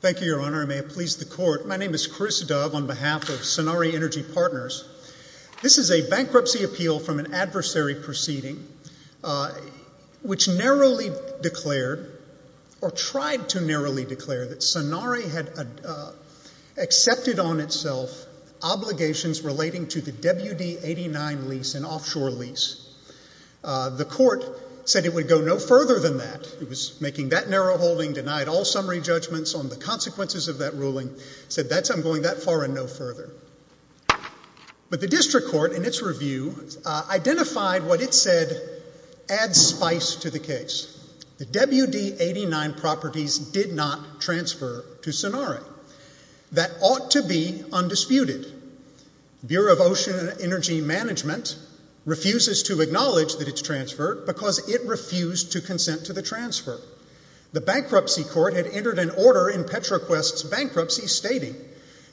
Thank you, Your Honor. I may have pleased the Court. My name is Chris Dove on behalf of Sanare Energy Partners. This is a bankruptcy appeal from an adversary proceeding which narrowly declared, or tried to narrowly declare, that Sanare had accepted on itself obligations relating to the WD-89 lease, an offshore lease. The Court said it would go no further than that. It was making that narrow holding, denied all summary judgments on the consequences of that ruling, said I'm going that far and no further. But the District Court in its review identified what it said adds spice to the case. The WD-89 properties did not transfer to Sanare. That ought to be undisputed. The Bureau of Ocean and Energy Management refuses to acknowledge that it's transferred because it refused to consent to the transfer. The Bankruptcy Court had entered an order in Petroquest's bankruptcy stating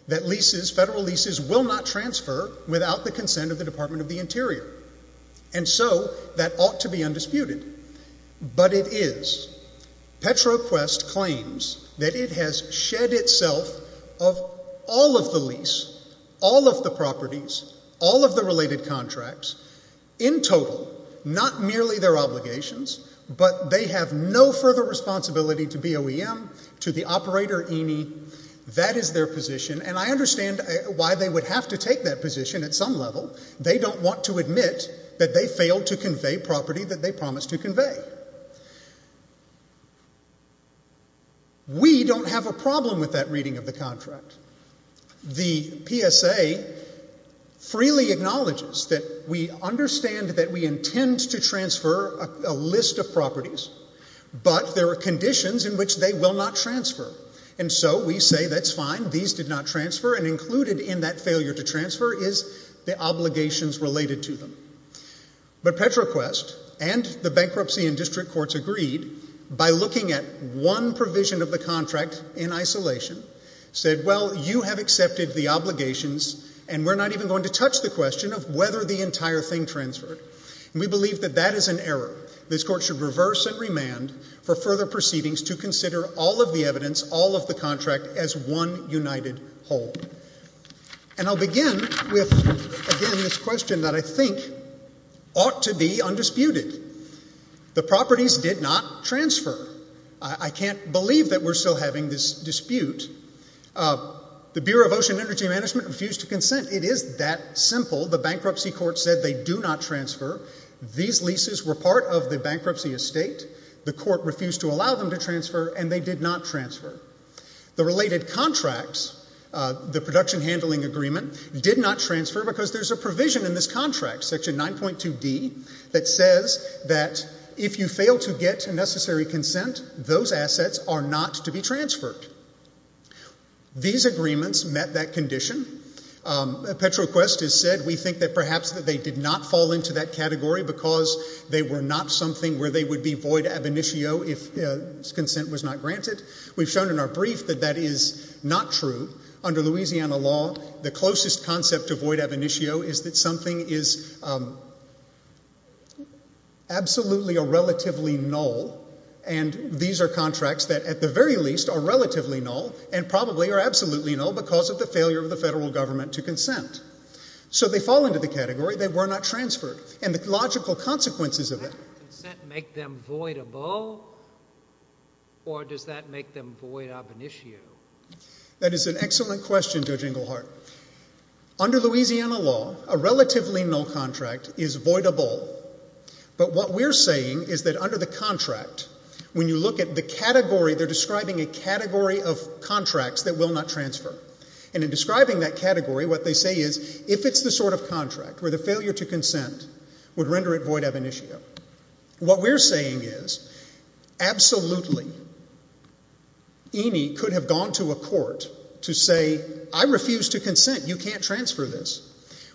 that leases, federal leases, will not transfer without the consent of the Department of the Interior. And so that ought to be undisputed. But it is. Petroquest claims that it has shed itself of all of the lease, all of the properties, all of the related contracts, in total, not merely their obligations, but they have no further responsibility to BOEM, to the operator E&E. That is their position. And I understand why they would have to take that position at some level. They don't want to admit that they failed to convey property that they promised to convey. We don't have a problem with that reading of the contract. The PSA freely acknowledges that we understand that we intend to transfer a list of properties, but there are conditions in which they will not transfer. And so we say that's fine, these did not transfer, and included in that failure to transfer is the obligations related to them. But Petroquest and the bankruptcy and district courts agreed by looking at one provision of the contract in isolation, said, well, you have accepted the obligations and we're not even going to touch the question of whether the entire thing transferred. And we believe that that is an error. This court should reverse and remand for further proceedings to consider all of the evidence, all of the contract as one united whole. And I'll begin with, again, this question that I think ought to be undisputed. The properties did not transfer. I can't believe that we're still having this dispute. The Bureau of Ocean Energy Management refused to consent. It is that simple. The bankruptcy court said they do not transfer. These leases were part of the bankruptcy estate. The court refused to allow them to transfer and they did not transfer. The related contracts, the production handling agreement, did not transfer because there's a provision in this contract, section 9.2D, that says that if you fail to get a necessary consent, those assets are not to be transferred. These agreements met that condition. Petroquest has said we think that perhaps that they did not fall into that category because they were not something where they would be void ab initio if consent was not granted. We've shown in our brief that that is not true. Under Louisiana law, the void ab initio is that something is absolutely or relatively null, and these are contracts that at the very least are relatively null and probably are absolutely null because of the failure of the federal government to consent. So they fall into the category. They were not transferred. And the logical consequences of it— Does that consent make them voidable or does that make them void ab initio? That is an excellent question, Judge Inglehart. Under Louisiana law, a relatively null contract is voidable. But what we're saying is that under the contract, when you look at the category, they're describing a category of contracts that will not transfer. And in describing that category, what they say is, if it's the sort of contract where the failure to consent would render it void ab initio. What we're saying is, absolutely, EANI could have gone to a court to say, I refuse to consent. You can't transfer this.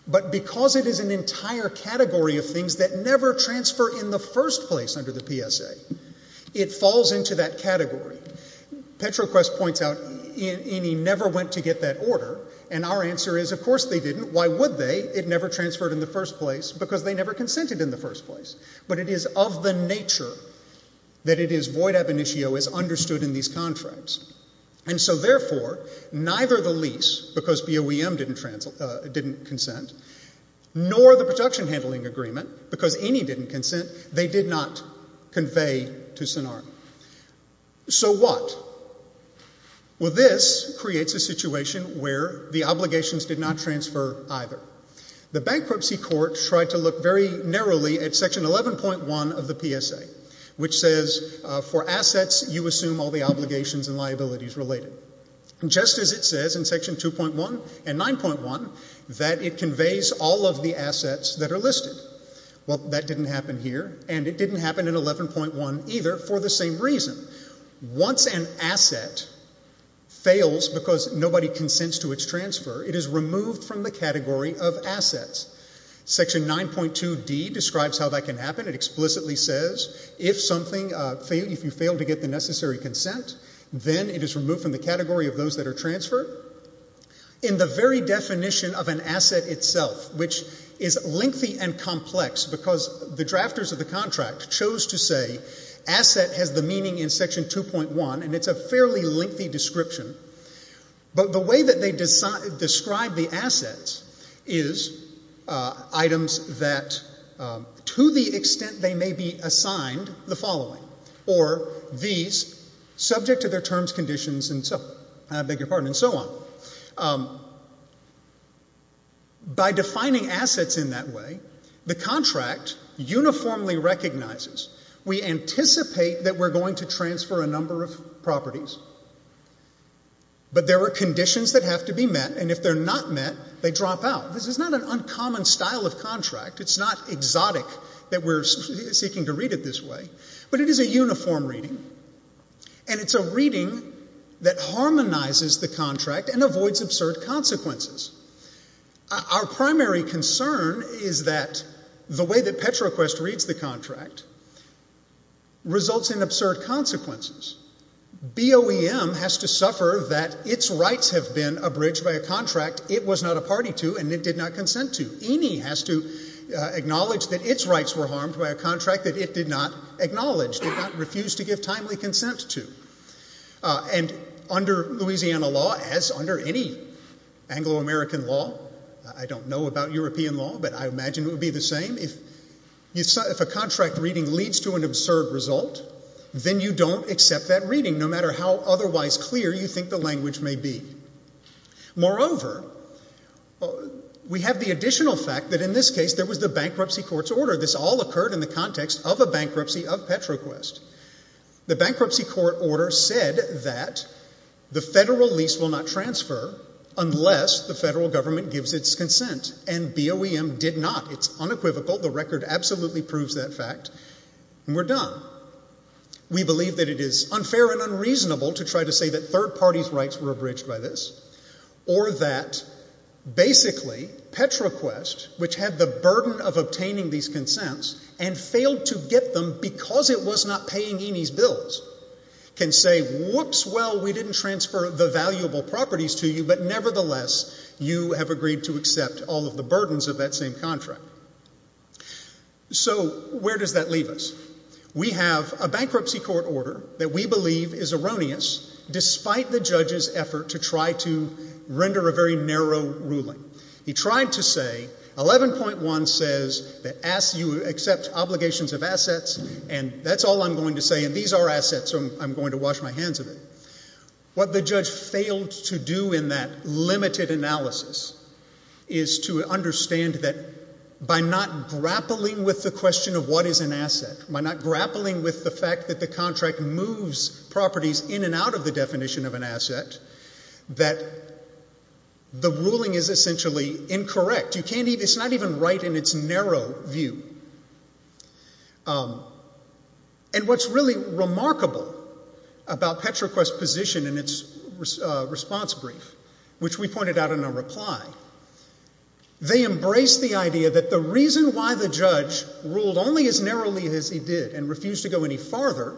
But because it is an entire category of things that never transfer in the first place under the PSA, it falls into that category. Petroquest points out EANI never went to get that order, and our answer is, of course they didn't. Why would they? It never transferred in the first place because they never consented in the first place. But it is of the nature that it is void ab initio as understood in these contracts. And so therefore, neither the lease, because BOEM didn't consent, nor the production handling agreement, because EANI didn't consent, they did not convey to SINAR. So what? Well, this creates a situation where the obligations did not transfer either. The bankruptcy court tried to look very narrowly at section 11.1 of the PSA, which says, for assets, you assume all the obligations and liabilities related. Just as it says in section 2.1 and 9.1 that it conveys all of the assets that are listed. Well, that didn't happen here, and it didn't happen in 11.1 either for the same reason. Once an asset fails because nobody consents to its transfer, it is removed from the category of assets. Section 9.2D describes how that can happen. It explicitly says if you fail to get the necessary consent, then it is removed from the category of those that are transferred. In the very definition of an asset itself, which is lengthy and complex because the drafters of the contract chose to say asset has the meaning in section 2.1, and it's a fairly broad category, is items that, to the extent they may be assigned, the following, or these subject to their terms, conditions, and so on. By defining assets in that way, the contract uniformly recognizes. We anticipate that we're going to transfer a number of properties, but there are conditions that have to be met, and if they're not met, they drop out. This is not an uncommon style of contract. It's not exotic that we're seeking to read it this way, but it is a uniform reading, and it's a reading that harmonizes the contract and avoids absurd consequences. Our primary concern is that the way that PetroQuest reads the contract, OEM has to suffer that its rights have been abridged by a contract it was not a party to and it did not consent to. E&E has to acknowledge that its rights were harmed by a contract that it did not acknowledge, did not refuse to give timely consent to, and under Louisiana law, as under any Anglo-American law, I don't know about European law, but I imagine it would be the same, if a contract reading leads to an absurd result, then you don't accept that reading, no matter how otherwise clear you think the language may be. Moreover, we have the additional fact that in this case, there was the bankruptcy court's order. This all occurred in the context of a bankruptcy of PetroQuest. The bankruptcy court order said that the federal lease will not transfer unless the federal government gives its consent, and BOEM did not. It's unequivocal. The record absolutely proves that fact, and we're done. We believe that it is unfair and unreasonable to try to say that third parties' rights were abridged by this, or that basically, PetroQuest, which had the burden of obtaining these consents and failed to get them because it was not paying E&E's bills, can say, whoops, well, we didn't transfer the valuable properties to you, but nevertheless, you have agreed to accept all of the burdens of that same contract. So where does that leave us? We have a bankruptcy court order that we believe is erroneous, despite the judge's effort to try to render a very narrow ruling. He tried to say, 11.1 says that you accept obligations of assets, and that's all I'm going to say, and these are assets, so I'm going to wash my hands of it. What the judge failed to do in that limited analysis is to understand that by not grappling with the question of what is an asset, by not grappling with the fact that the contract moves properties in and out of the definition of an asset, that the ruling is essentially incorrect. It's not even right in its narrow view, and what's really remarkable about PetroQuest's position in its response brief, which we pointed out in our reply, they embraced the idea that the reason why the judge ruled only as narrowly as he did and refused to go any farther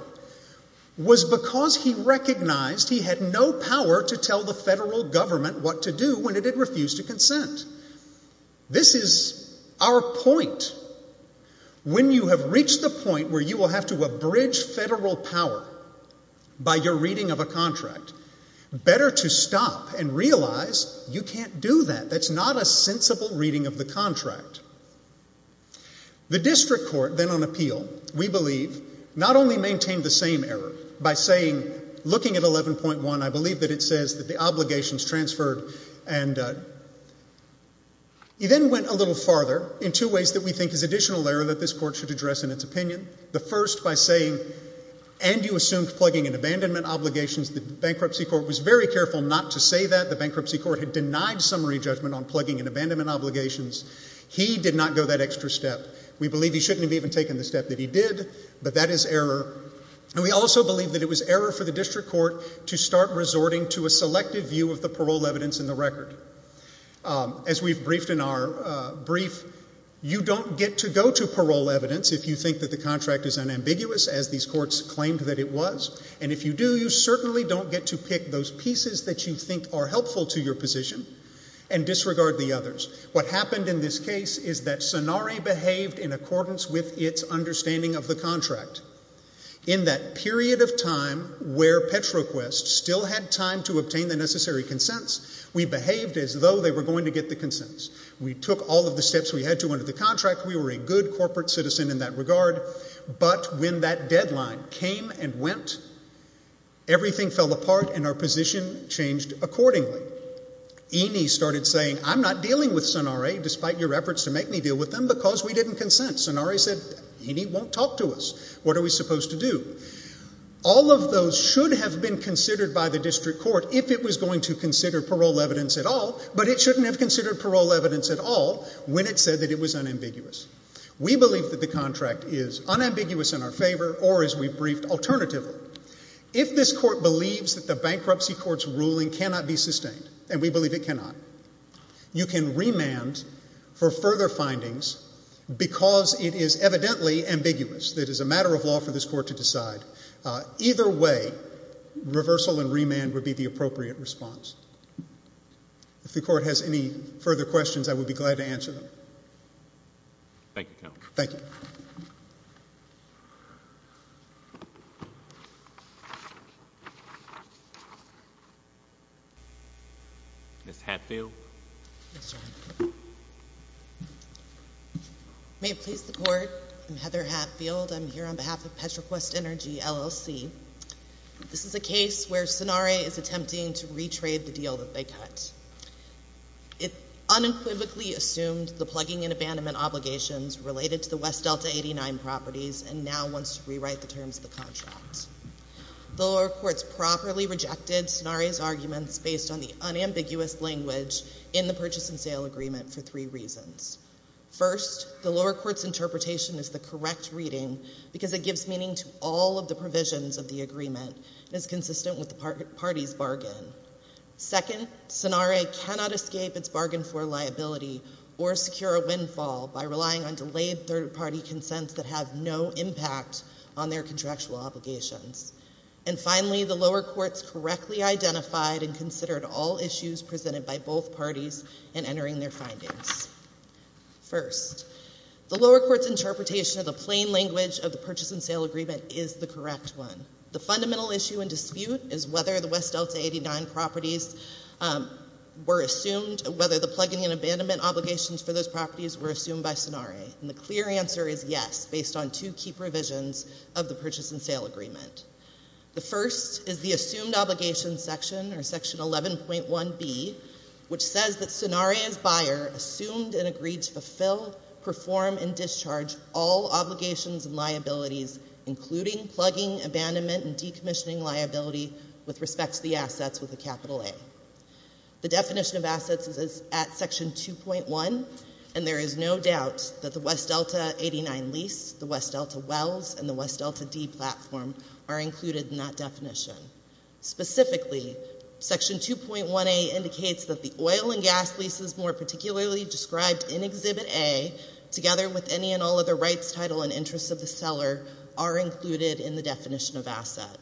was because he recognized he had no power to tell the federal government what to do when it did refuse to consent. This is our point. When you have reached the point where you will have to abridge federal power by your reading of a contract, better to stop and realize you can't do that. That's not a sensible reading of the contract. The district court then on appeal, we believe, not only maintained the same error by saying, looking at 11.1, I believe that it says that the obligations transferred, and he then went a little farther in two ways that we think is additional error that this court should address in its opinion. The first by saying, and you assumed plugging and abandonment obligations. The bankruptcy court was very careful not to say that. The bankruptcy court had denied summary judgment on plugging and abandonment obligations. He did not go that extra step. We believe he shouldn't have even taken the step that he did, but that is error. And we also believe that it was error for the district court to start resorting to a selective view of the parole evidence in the record. As we've briefed in our brief, you don't get to go to parole evidence if you think that the contract is unambiguous, as these courts claimed that it was. And if you do, you certainly don't get to pick those pieces that you think are helpful to your position and disregard the others. What happened in this case is that Sonare behaved in accordance with its understanding of the contract. In that period of time where PetroQuest still had time to obtain the necessary consents, we behaved as though they were going to get the consents. We took all of the steps we had to under the contract. We were a good corporate citizen in that regard. But when that deadline came and went, everything fell apart and our position changed accordingly. Eaney started saying, I'm not dealing with Sonare, despite your efforts to make me deal with them, because we didn't consent. Sonare said, Eaney won't talk to us. What are we supposed to do? All of those should have been considered by the district court if it was going to consider parole evidence at all, but it shouldn't have considered parole evidence at all when it said that it was unambiguous. We believe that the contract is unambiguous in our favor or, as we've briefed, alternative. If this court believes that the bankruptcy court's ruling cannot be sustained, and we believe it cannot, you can remand for further findings because it is evidently ambiguous. It is a matter of law for this court to decide. Either way, reversal and remand would be the appropriate response. If the court has any further questions, I would be glad to answer them. Thank you, Counsel. Thank you. Ms. Hatfield? Yes, Your Honor. May it please the Court, I'm Heather Hatfield. I'm here on behalf of the District Court. And I'm here to report that the District Court has rejected the contract. The contract was a deal that they cut. It unequivocally assumed the plugging and abandonment obligations related to the West Delta 89 properties and now wants to rewrite the terms of the contract. The lower courts properly rejected Sonare's arguments based on the unambiguous language in the purchase and sale agreement for three reasons. First, the lower court's interpretation is the correct reading because it gives meaning to all of the provisions of the agreement and is consistent with the party's bargain. Second, Sonare cannot escape its bargain for liability or secure a windfall by relying on delayed third party consents that have no impact on their contractual obligations. And finally, the lower courts correctly identified and considered all issues presented by both parties in the agreement. The lower court's interpretation of the plain language of the purchase and sale agreement is the correct one. The fundamental issue in dispute is whether the West Delta 89 properties were assumed, whether the plugging and abandonment obligations for those properties were assumed by Sonare. And the clear answer is yes, based on two key provisions of the purchase and sale agreement. The first is the assumed obligation section, or section 2.1A, to perform and discharge all obligations and liabilities, including plugging, abandonment, and decommissioning liability with respect to the assets with a capital A. The definition of assets is at section 2.1, and there is no doubt that the West Delta 89 lease, the West Delta Wells, and the West Delta D platform are included in that definition. Specifically, section 2.1A indicates that the oil and gas leases more particularly described in Exhibit A, together with any and all other rights, title, and interests of the seller, are included in the definition of asset.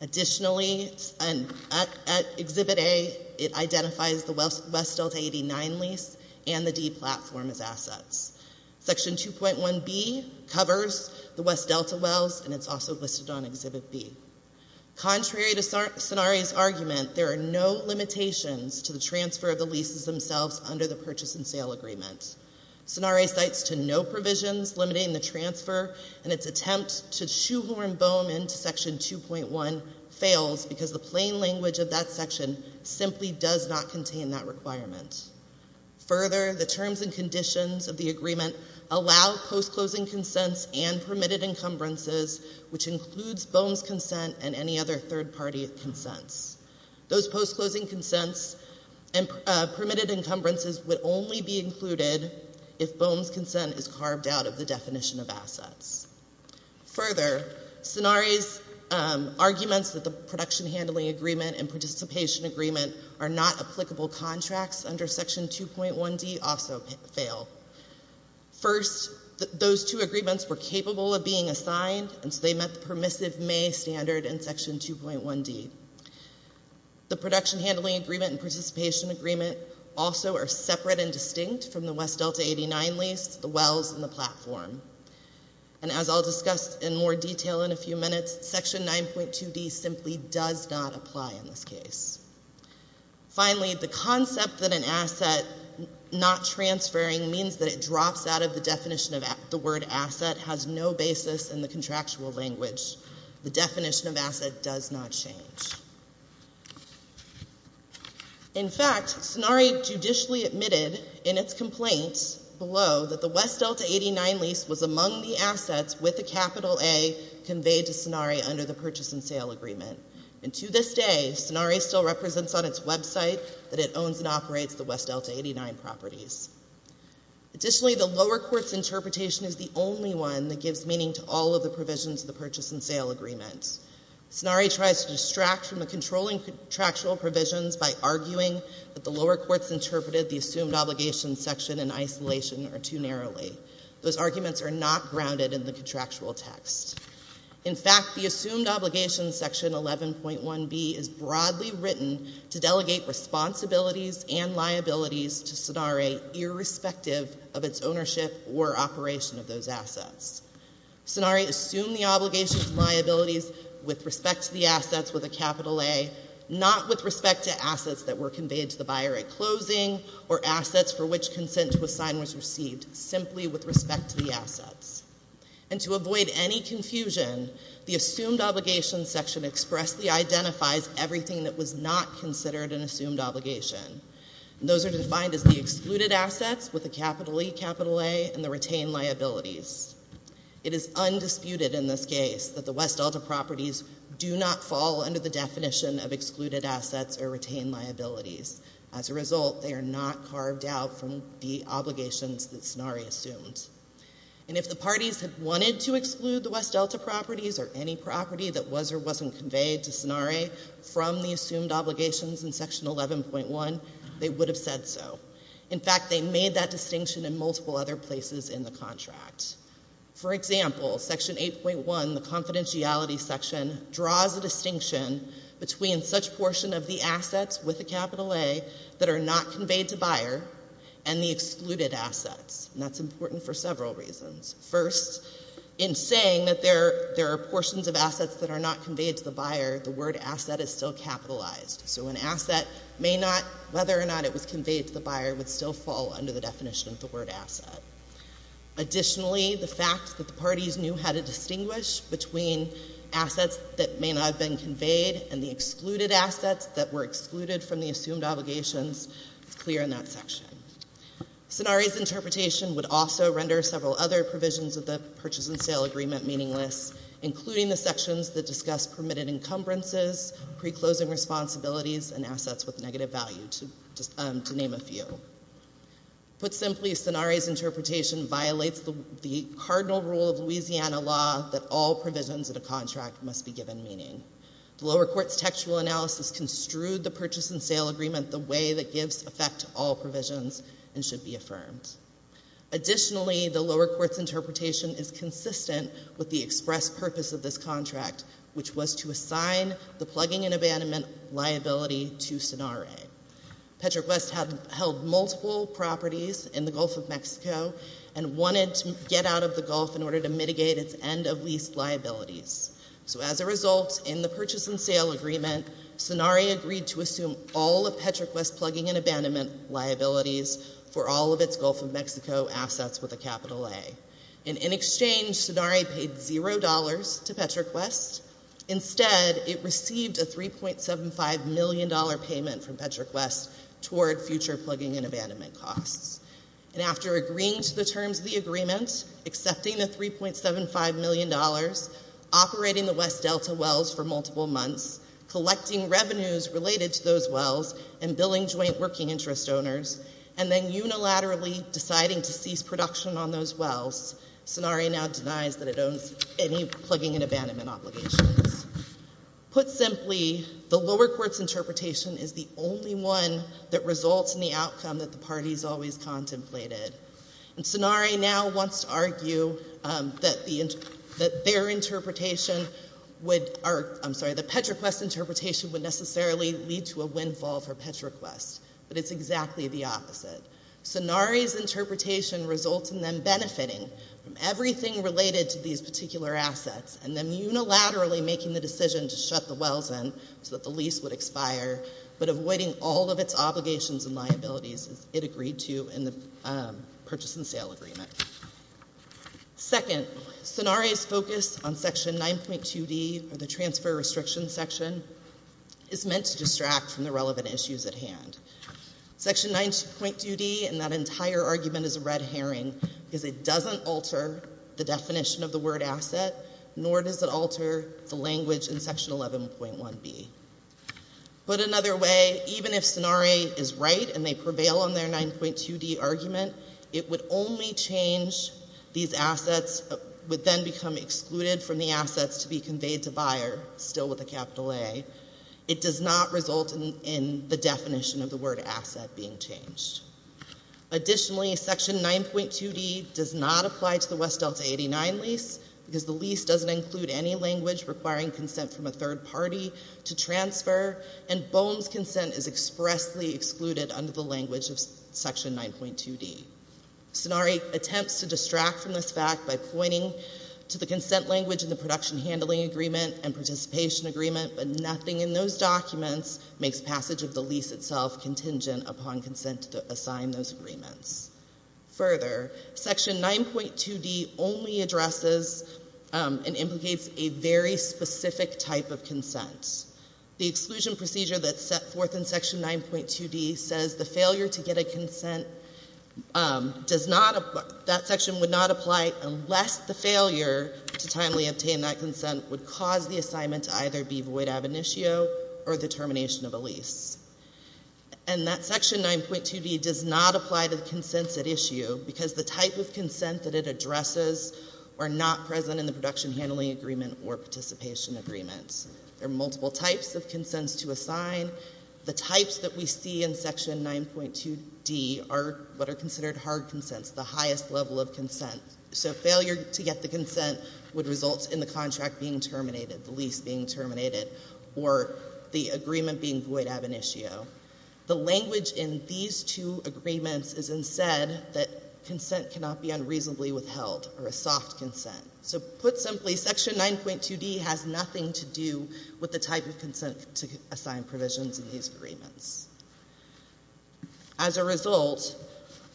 Additionally, at Exhibit A, it identifies the West Delta 89 lease and the D platform as assets. Section 2.1B covers the West Delta Wells, and it's also listed on Exhibit B. Contrary to Sonare's argument, there are no limitations to the transfer of the leases themselves under the purchase and sale agreement. Sonare cites to no provisions limiting the transfer, and its attempt to shoehorn BOEM into section 2.1 fails because the plain language of that section simply does not contain that requirement. Further, the terms and conditions of the agreement allow post-closing consents and permitted encumbrances, which includes BOEM's consent and any other third-party consents. Those post-closing consents and permitted encumbrances would only be included if BOEM's consent is carved out of the definition of assets. Further, Sonare's arguments that the production handling agreement and participation agreement are not applicable contracts under section 2.1D also fail. First, those two agreements were capable of being assigned, and so they met the permissive May standard in section 2.1D. The production handling agreement and participation agreement also are separate and distinct from the West Delta 89 lease, the Wells, and the platform. And as I'll discuss in more detail in a few minutes, section 9.2D simply does not apply in this case. Finally, the concept that an asset has no basis in the contractual language. The definition of asset does not change. In fact, Sonare judicially admitted in its complaint below that the West Delta 89 lease was among the assets with a capital A conveyed to Sonare under the purchase and sale agreement. And to this day, Sonare still represents on its website that it owns and operates the West Delta 89 properties. Additionally, the lower court's interpretation is the only one that gives meaning to all of the provisions of the purchase and sale agreement. Sonare tries to distract from the controlling contractual provisions by arguing that the lower courts interpreted the assumed obligation section in isolation or too narrowly. Those arguments are not grounded in the contractual text. In fact, the assumed obligation section 11.1B is broadly written to delegate responsibilities and liabilities to Sonare irrespective of its ownership or operation of those assets. Sonare assumed the obligations and liabilities with respect to the assets with a capital A, not with respect to assets that were conveyed to the buyer at closing or assets for which consent to assign was received, simply with respect to the assets. And to avoid any confusion, the assumed obligation section expressly identifies everything that was not considered an assumed obligation. And those are defined as the excluded assets with a capital E, capital A, and the retained liabilities. It is undisputed in this case that the West Delta properties do not fall under the definition of excluded assets or retained liabilities. As a result, they are not carved out from the obligations that was or wasn't conveyed to Sonare from the assumed obligations in section 11.1. They would have said so. In fact, they made that distinction in multiple other places in the contract. For example, section 8.1, the confidentiality section, draws a distinction between such portion of the assets with a capital A that are not conveyed to buyer and the excluded assets. And that's because even if they were not conveyed to the buyer, the word asset is still capitalized. So an asset may not, whether or not it was conveyed to the buyer, would still fall under the definition of the word asset. Additionally, the fact that the parties knew how to distinguish between assets that may not have been conveyed and the excluded assets that were excluded from the assumed obligations is clear in that there are many sections that discuss permitted encumbrances, pre-closing responsibilities, and assets with negative value, to name a few. Put simply, Sonare's interpretation violates the cardinal rule of Louisiana law that all provisions in a contract must be given meaning. The lower court's textual analysis construed the purchase and sale agreement the way that gives effect to all provisions and should be affirmed. Additionally, the lower court's interpretation is consistent with the express purpose of this contract, which was to assign the plugging and abandonment liability to Sonare. Petroquest held multiple properties in the Gulf of Mexico and wanted to get out of the Gulf in order to mitigate its end-of-lease liabilities. So as a result, in the purchase and sale agreement, Sonare agreed to assume all of Petroquest's plugging and abandonment liabilities for all of its Gulf of Mexico assets with a capital A. And in exchange, Sonare paid $0 to Petroquest. Instead, it received a $3.75 million payment from Petroquest toward future plugging and abandonment costs. And after agreeing to the terms of the agreement, accepting the $3.75 million, operating the West Delta wells for multiple months, collecting revenues related to those wells, and billing joint working interest owners, and then unilaterally deciding to cease production on those wells, Sonare now denies that it owns any plugging and abandonment obligations. Put simply, the lower court's interpretation is the only one that results in the outcome that the parties always contemplated. And Sonare now wants to argue that their interpretation would—I'm sorry, the Petroquest interpretation would necessarily lead to a windfall for Petroquest. But it's exactly the opposite. Sonare's interpretation results in them benefiting from everything related to these particular assets and then unilaterally making the decision to shut the wells in so that the lease would expire, but avoiding all of its obligations and liabilities as it agreed to in the purchase and sale agreement. Second, Sonare's focus on Section 9.2D, or the transfer restriction section, is meant to distract from the relevant issues at hand. Section 9.2D and that nor does it alter the language in Section 11.1B. Put another way, even if Sonare is right and they prevail on their 9.2D argument, it would only change these assets—would then become excluded from the assets to be conveyed to buyer, still with a capital A. It does not result in the definition of the word asset being changed. Additionally, Section 9.2D does not apply to the West Delta 89 lease because the lease doesn't include any language requiring consent from a third party to transfer, and BOEM's consent is expressly excluded under the language of Section 9.2D. Sonare attempts to distract from this fact by pointing to the consent language in the production handling agreement and assign those agreements. Further, Section 9.2D only addresses and implicates a very specific type of consent. The exclusion procedure that's set forth in Section 9.2D says the failure to get a consent does not—that section would not apply unless the failure to timely obtain that consent would cause the assignment to either be void ab initio or the termination of a lease. And that Section 9.2D does not apply to the consents at issue because the type of consent that it addresses are not present in the production handling agreement or participation agreements. There are multiple types of consents to assign. The types that we see in Section 9.2D are what are considered hard consents, the highest level of consent. So failure to get the consent would result in the contract being terminated, the lease being terminated, or the agreement being void ab initio. The language in these two agreements is instead that consent cannot be unreasonably withheld or a soft consent. So put simply, Section 9.2D has nothing to do with the type of consent to assign provisions in these agreements. As a result,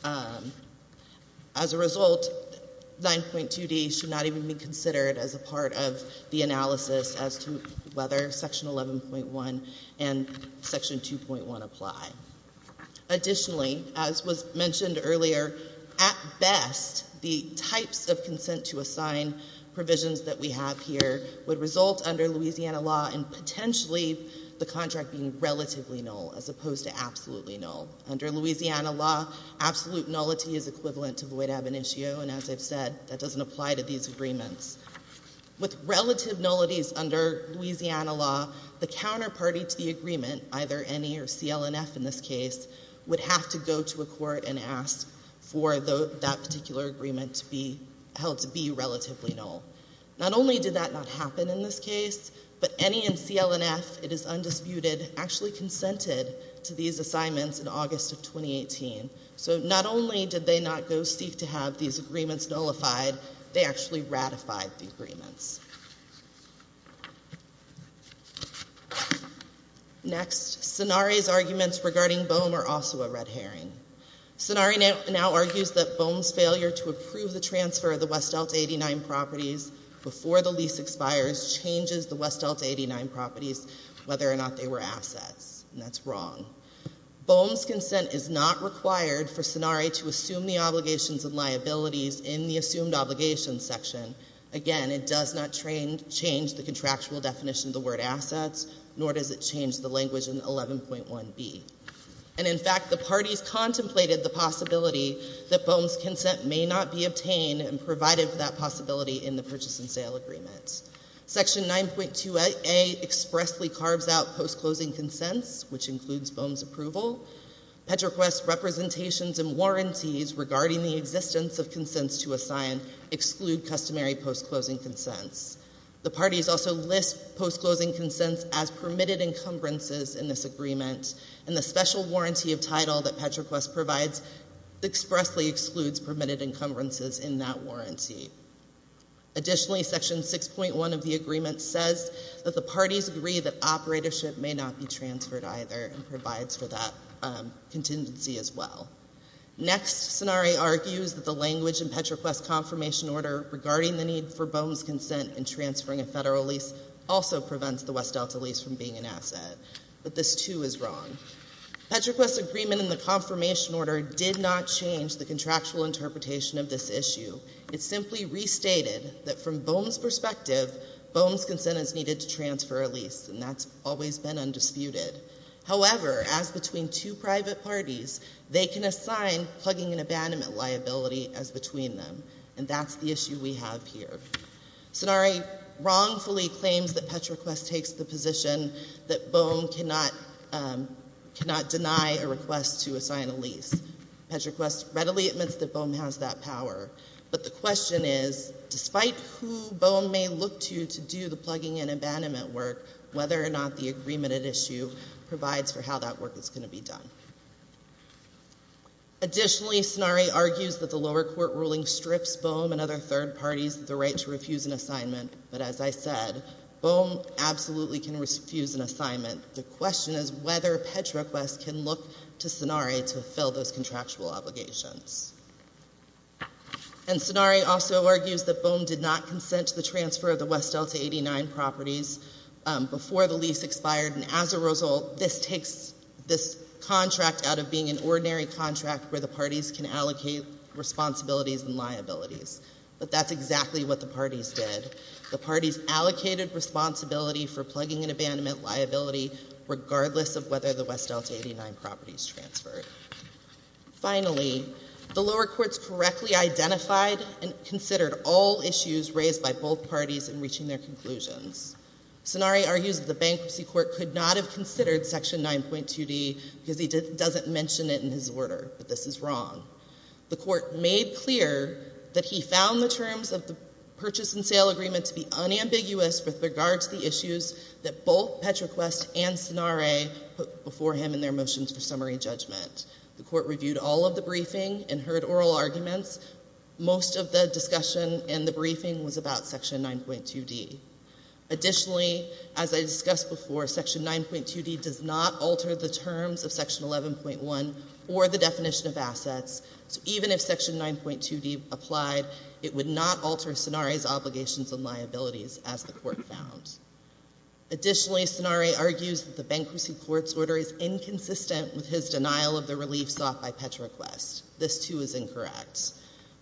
9.2D should not even be considered as a part of the analysis as to whether Section 11.1 and Section 2.1 apply. Additionally, as was mentioned earlier, at best, the types of consent to assign provisions that we have here would result under Louisiana law in potentially the contract being ab initio, and as I've said, that doesn't apply to these agreements. With relative nullities under Louisiana law, the counterparty to the agreement, either NE or CLNF in this case, would have to go to a court and ask for that particular agreement to be held to be relatively null. Not only did that not happen in this case, but NE and CLNF, it is undisputed, actually consented to these assignments in August of 2018. So not only did they not go seek to have these agreements nullified, they actually ratified the agreements. Next, Sonari's arguments regarding BOEM are also a red herring. Sonari now argues that BOEM's failure to approve the transfer of the West Delta 89 properties before the lease expires changes the West Delta 89 properties, whether or not they were assets. And that's wrong. BOEM's consent is not required for Sonari to assume the obligations and liabilities in the assumed obligations section. Again, it does not change the contractual definition of the word assets, nor does it change the language in 11.1b. And in fact, the parties contemplated the possibility that BOEM's consent may not be obtained and provided for that possibility in the purchase and sale agreement. Section 9.2a expressly carves out post-closing consents, which includes BOEM's approval. PetroQuest's representations and warranties regarding the existence of consents to assign exclude customary post-closing consents. The parties also list post-closing consents as permitted encumbrances in this agreement. And the special warranty of title that PetroQuest provides expressly excludes permitted encumbrances in that warranty. Additionally, section 6.1 of the agreement says that the parties agree that operatorship may not be transferred either and provides for that contingency as well. Next, Sonari argues that the language in PetroQuest's lease from being an asset. But this, too, is wrong. PetroQuest's agreement in the confirmation order did not change the contractual interpretation of this issue. It simply restated that from BOEM's perspective, BOEM's consent is needed to transfer a lease, and that's always been undisputed. However, as between two private parties, they can assign plugging an abandonment liability as between them. And that's the issue we have here. Sonari wrongfully claims that PetroQuest takes the position that BOEM cannot deny a request to assign a lease. PetroQuest readily admits that BOEM has that power. But the question is, despite who BOEM may look to to do the plugging and abandonment work, whether or not the agreement at issue provides for how that work is going to be done. Additionally, Sonari argues that the lower court ruling strips BOEM and other third parties of the right to refuse an assignment. But as I said, BOEM absolutely can refuse an assignment. The question is whether PetroQuest can look to Sonari to fulfill those contractual obligations. And Sonari also argues that BOEM did not consent to the transfer of the contract out of being an ordinary contract where the parties can allocate responsibilities and liabilities. But that's exactly what the parties did. The parties allocated responsibility for plugging an abandonment liability regardless of whether the West Delta 89 property is transferred. Finally, the lower courts correctly identified and considered all issues raised by both parties in section 9.2D because he doesn't mention it in his order. But this is wrong. The court made clear that he found the terms of the purchase and sale agreement to be unambiguous with regard to the issues that both PetroQuest and Sonari put before him in their motions for summary judgment. The court reviewed all of the briefing and heard oral arguments. Most of the discussion in the briefing was about section 9.2D. Additionally, as I discussed before, section 9.2D does not alter the terms of section 11.1 or the definition of assets. So even if section 9.2D applied, it would not alter Sonari's obligations and liabilities as the court found. Additionally, Sonari argues that the bankruptcy court's order is inconsistent with his denial of the relief sought by PetroQuest is incorrect.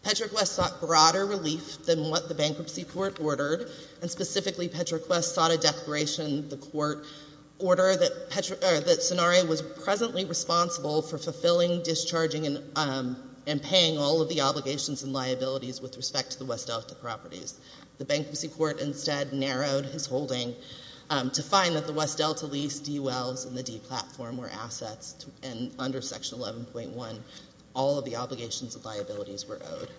PetroQuest sought broader relief than what the bankruptcy court ordered, and specifically PetroQuest sought a declaration the court ordered that Sonari was presently responsible for fulfilling, discharging, and paying all of the obligations and liabilities with respect to the West Delta properties. The bankruptcy court instead narrowed his holding to find that the West Delta properties and liabilities were owed.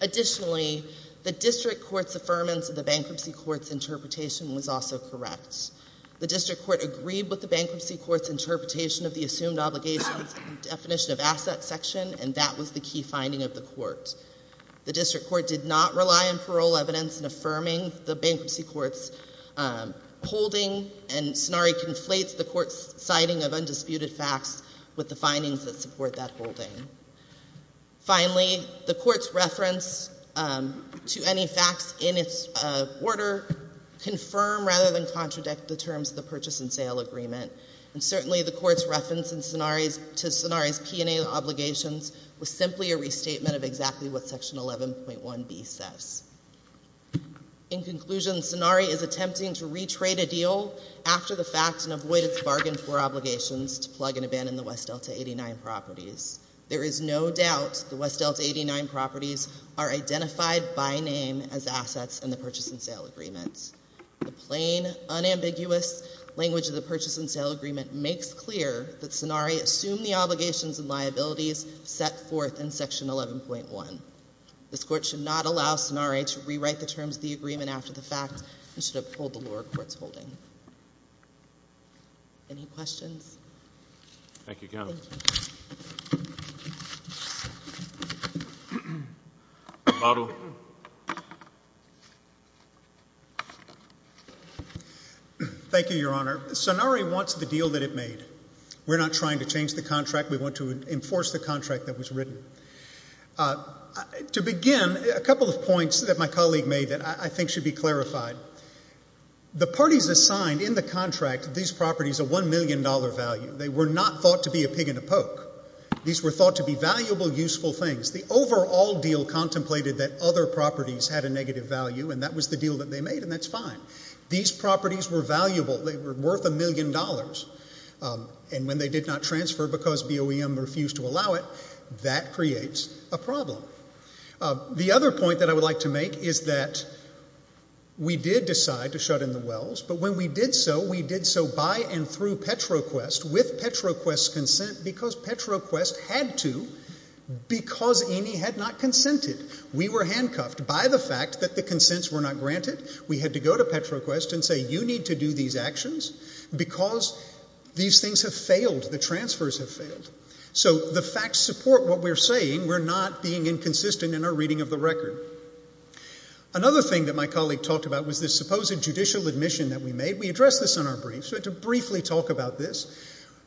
Additionally, the district court's affirmance of the bankruptcy court's interpretation was also correct. The district court agreed with the bankruptcy court's interpretation of the assumed obligations and definition of assets section, and that was the key finding of the court. The district court did not rely on parole evidence in affirming the bankruptcy court's holding, and Sonari conflates the court's citing of undisputed facts with the findings that support that holding. Finally, the court's reference to any facts in its order confirm rather than contradict the terms of the purchase and sale agreement. And certainly the court's reference to Sonari's P&A obligations was simply a restatement of exactly what section of the P&A agreement was in the purchase and sale agreement. The court did not withhold after the fact and avoid its bargain for obligations to plug and abandon the West Delta 89 properties. There is no doubt the West Delta 89 properties are identified by name as assets in the purchase and sale agreement. The plain, unambiguous language of the purchase and sale agreement makes clear that Sonari assumed the obligations and liabilities set forth in section 11.1. This court should not allow Sonari to rewrite the terms of the agreement after the fact and should uphold the lower court's holding. Any questions? Thank you, Counsel. Maru. Thank you, Your Honor. Sonari wants the deal that it made. We're not trying to change the contract. We want to enforce the contract that was written. To begin, a couple of points that my colleague made that I think should be clarified. The parties assigned in the contract to these properties a $1 million value. They were not thought to be a pig in a poke. These were thought to be valuable, useful things. The overall deal contemplated that other properties had a negative value, and that was the deal that they made, and that's fine. These properties were valuable. They were worth $1 million. And when they did not transfer because BOEM refused to allow it, that creates a problem. The other point that I would like to make is that we did decide to shut in the wells, but when we did so, we did so by and through Petroquest, with Petroquest's consent, because Petroquest had to because E&E had not consented. We were handcuffed by the fact that the consents were not granted. We had to go to Petroquest and say, you need to do these actions because these things have failed. The transfers have failed. So the facts support what we're saying. We're not being inconsistent in our reading of the record. Another thing that my colleague talked about was this supposed judicial admission that we made. We addressed this in our briefs. We had to briefly talk about this.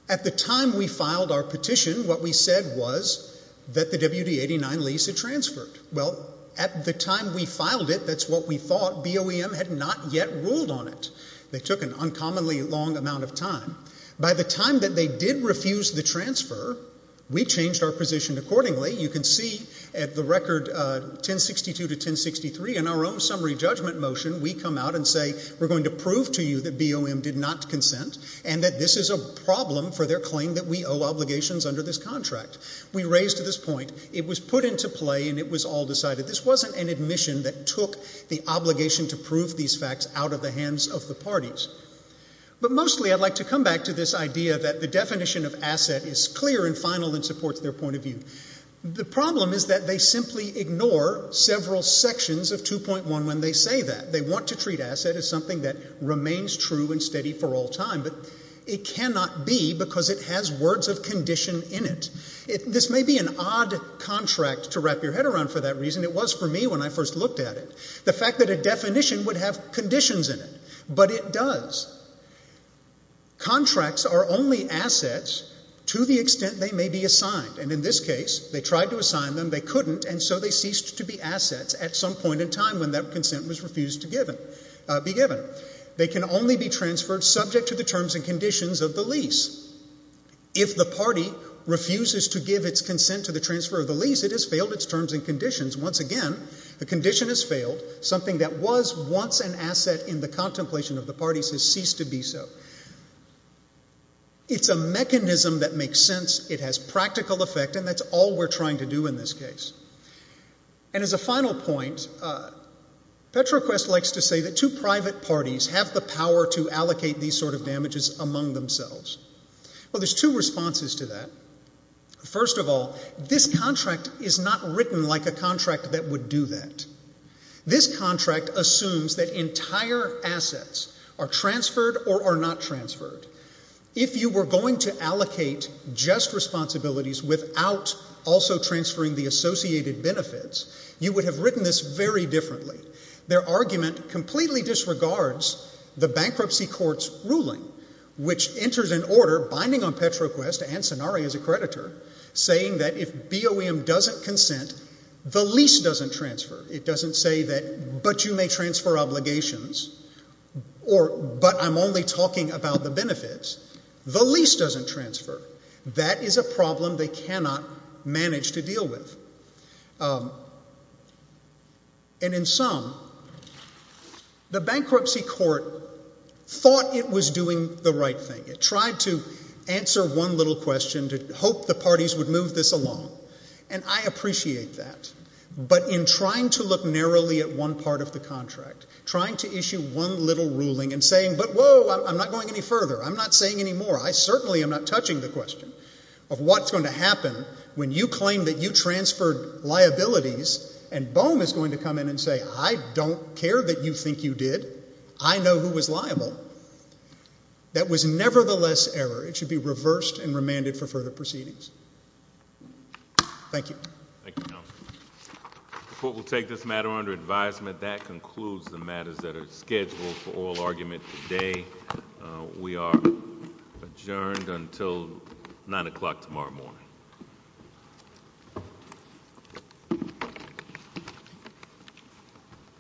At the time we filed our petition, what we said was that the WD-89 lease had transferred. Well, at the time we filed it, that's what we thought. BOEM had not yet ruled on it. They took an uncommonly long amount of time. By the time that they did refuse the transfer, we changed our position accordingly. You can see at the record 1062 to 1063 in our own summary judgment motion, we come out and say, we're going to prove to you that BOEM did not consent and that this is a problem for their claim that we owe obligations under this contract. We raised this point. It was put into play and it was all decided. This wasn't an admission that took the obligation to prove these facts out of the hands of the parties. But mostly I'd like to come back to this idea that the definition of asset is clear and final and supports their point of view. The problem is that they simply ignore several sections of 2.1 when they say that. They want to treat asset as something that remains true and steady for all time. But it cannot be because it has words of condition in it. This may be an odd contract to wrap your head around for that reason. It was for me when I first looked at it. The fact that a definition would have conditions in it. But it does. Contracts are only assets to the extent they may be assigned. And in this case, they tried to assign them. They couldn't. And so they ceased to be assets at some point in time when that consent was refused to be given. They can only be transferred subject to the terms and conditions of the lease. If the party refuses to give its consent to the transfer of the lease, it has failed its terms and conditions. Once again, the condition has failed. Something that was once an asset in the contemplation of the parties has ceased to be so. It's a mechanism that makes sense. It has practical effect. And that's all we're trying to do in this case. And as a final point, Petroquest likes to say that two private parties have the power to allocate these sort of damages among themselves. Well, there's two responses to that. First of all, this contract is not written like a contract that would do that. This contract assumes that entire assets are transferred or are not transferred. If you were going to allocate just responsibilities without also transferring the associated benefits, you would have written this very differently. Their argument completely disregards the bankruptcy court's ruling, which enters in order, binding on Petroquest and Cenari as a creditor, saying that if BOEM doesn't consent, the lease doesn't transfer. It doesn't say that but you may transfer obligations, or but I'm only talking about the benefits. The lease doesn't transfer. That is a problem they cannot manage to deal with. And in sum, the bankruptcy court thought it was doing the right thing. It tried to answer one little question to hope the parties would move this along. And I appreciate that. But in trying to look narrowly at one part of the contract, trying to issue one little ruling and saying, but whoa, I'm not going any further, I'm not saying any more, I certainly am not touching the question of what's going to happen when you claim that you transferred liabilities and BOEM is going to come in and say, I don't care that you think you did. I know who was liable. That was nevertheless error. It should be reversed and remanded for further proceedings. Thank you. The court will take this matter under advisement. That concludes the matters that are scheduled for oral argument today. We are adjourned until 9 o'clock tomorrow morning.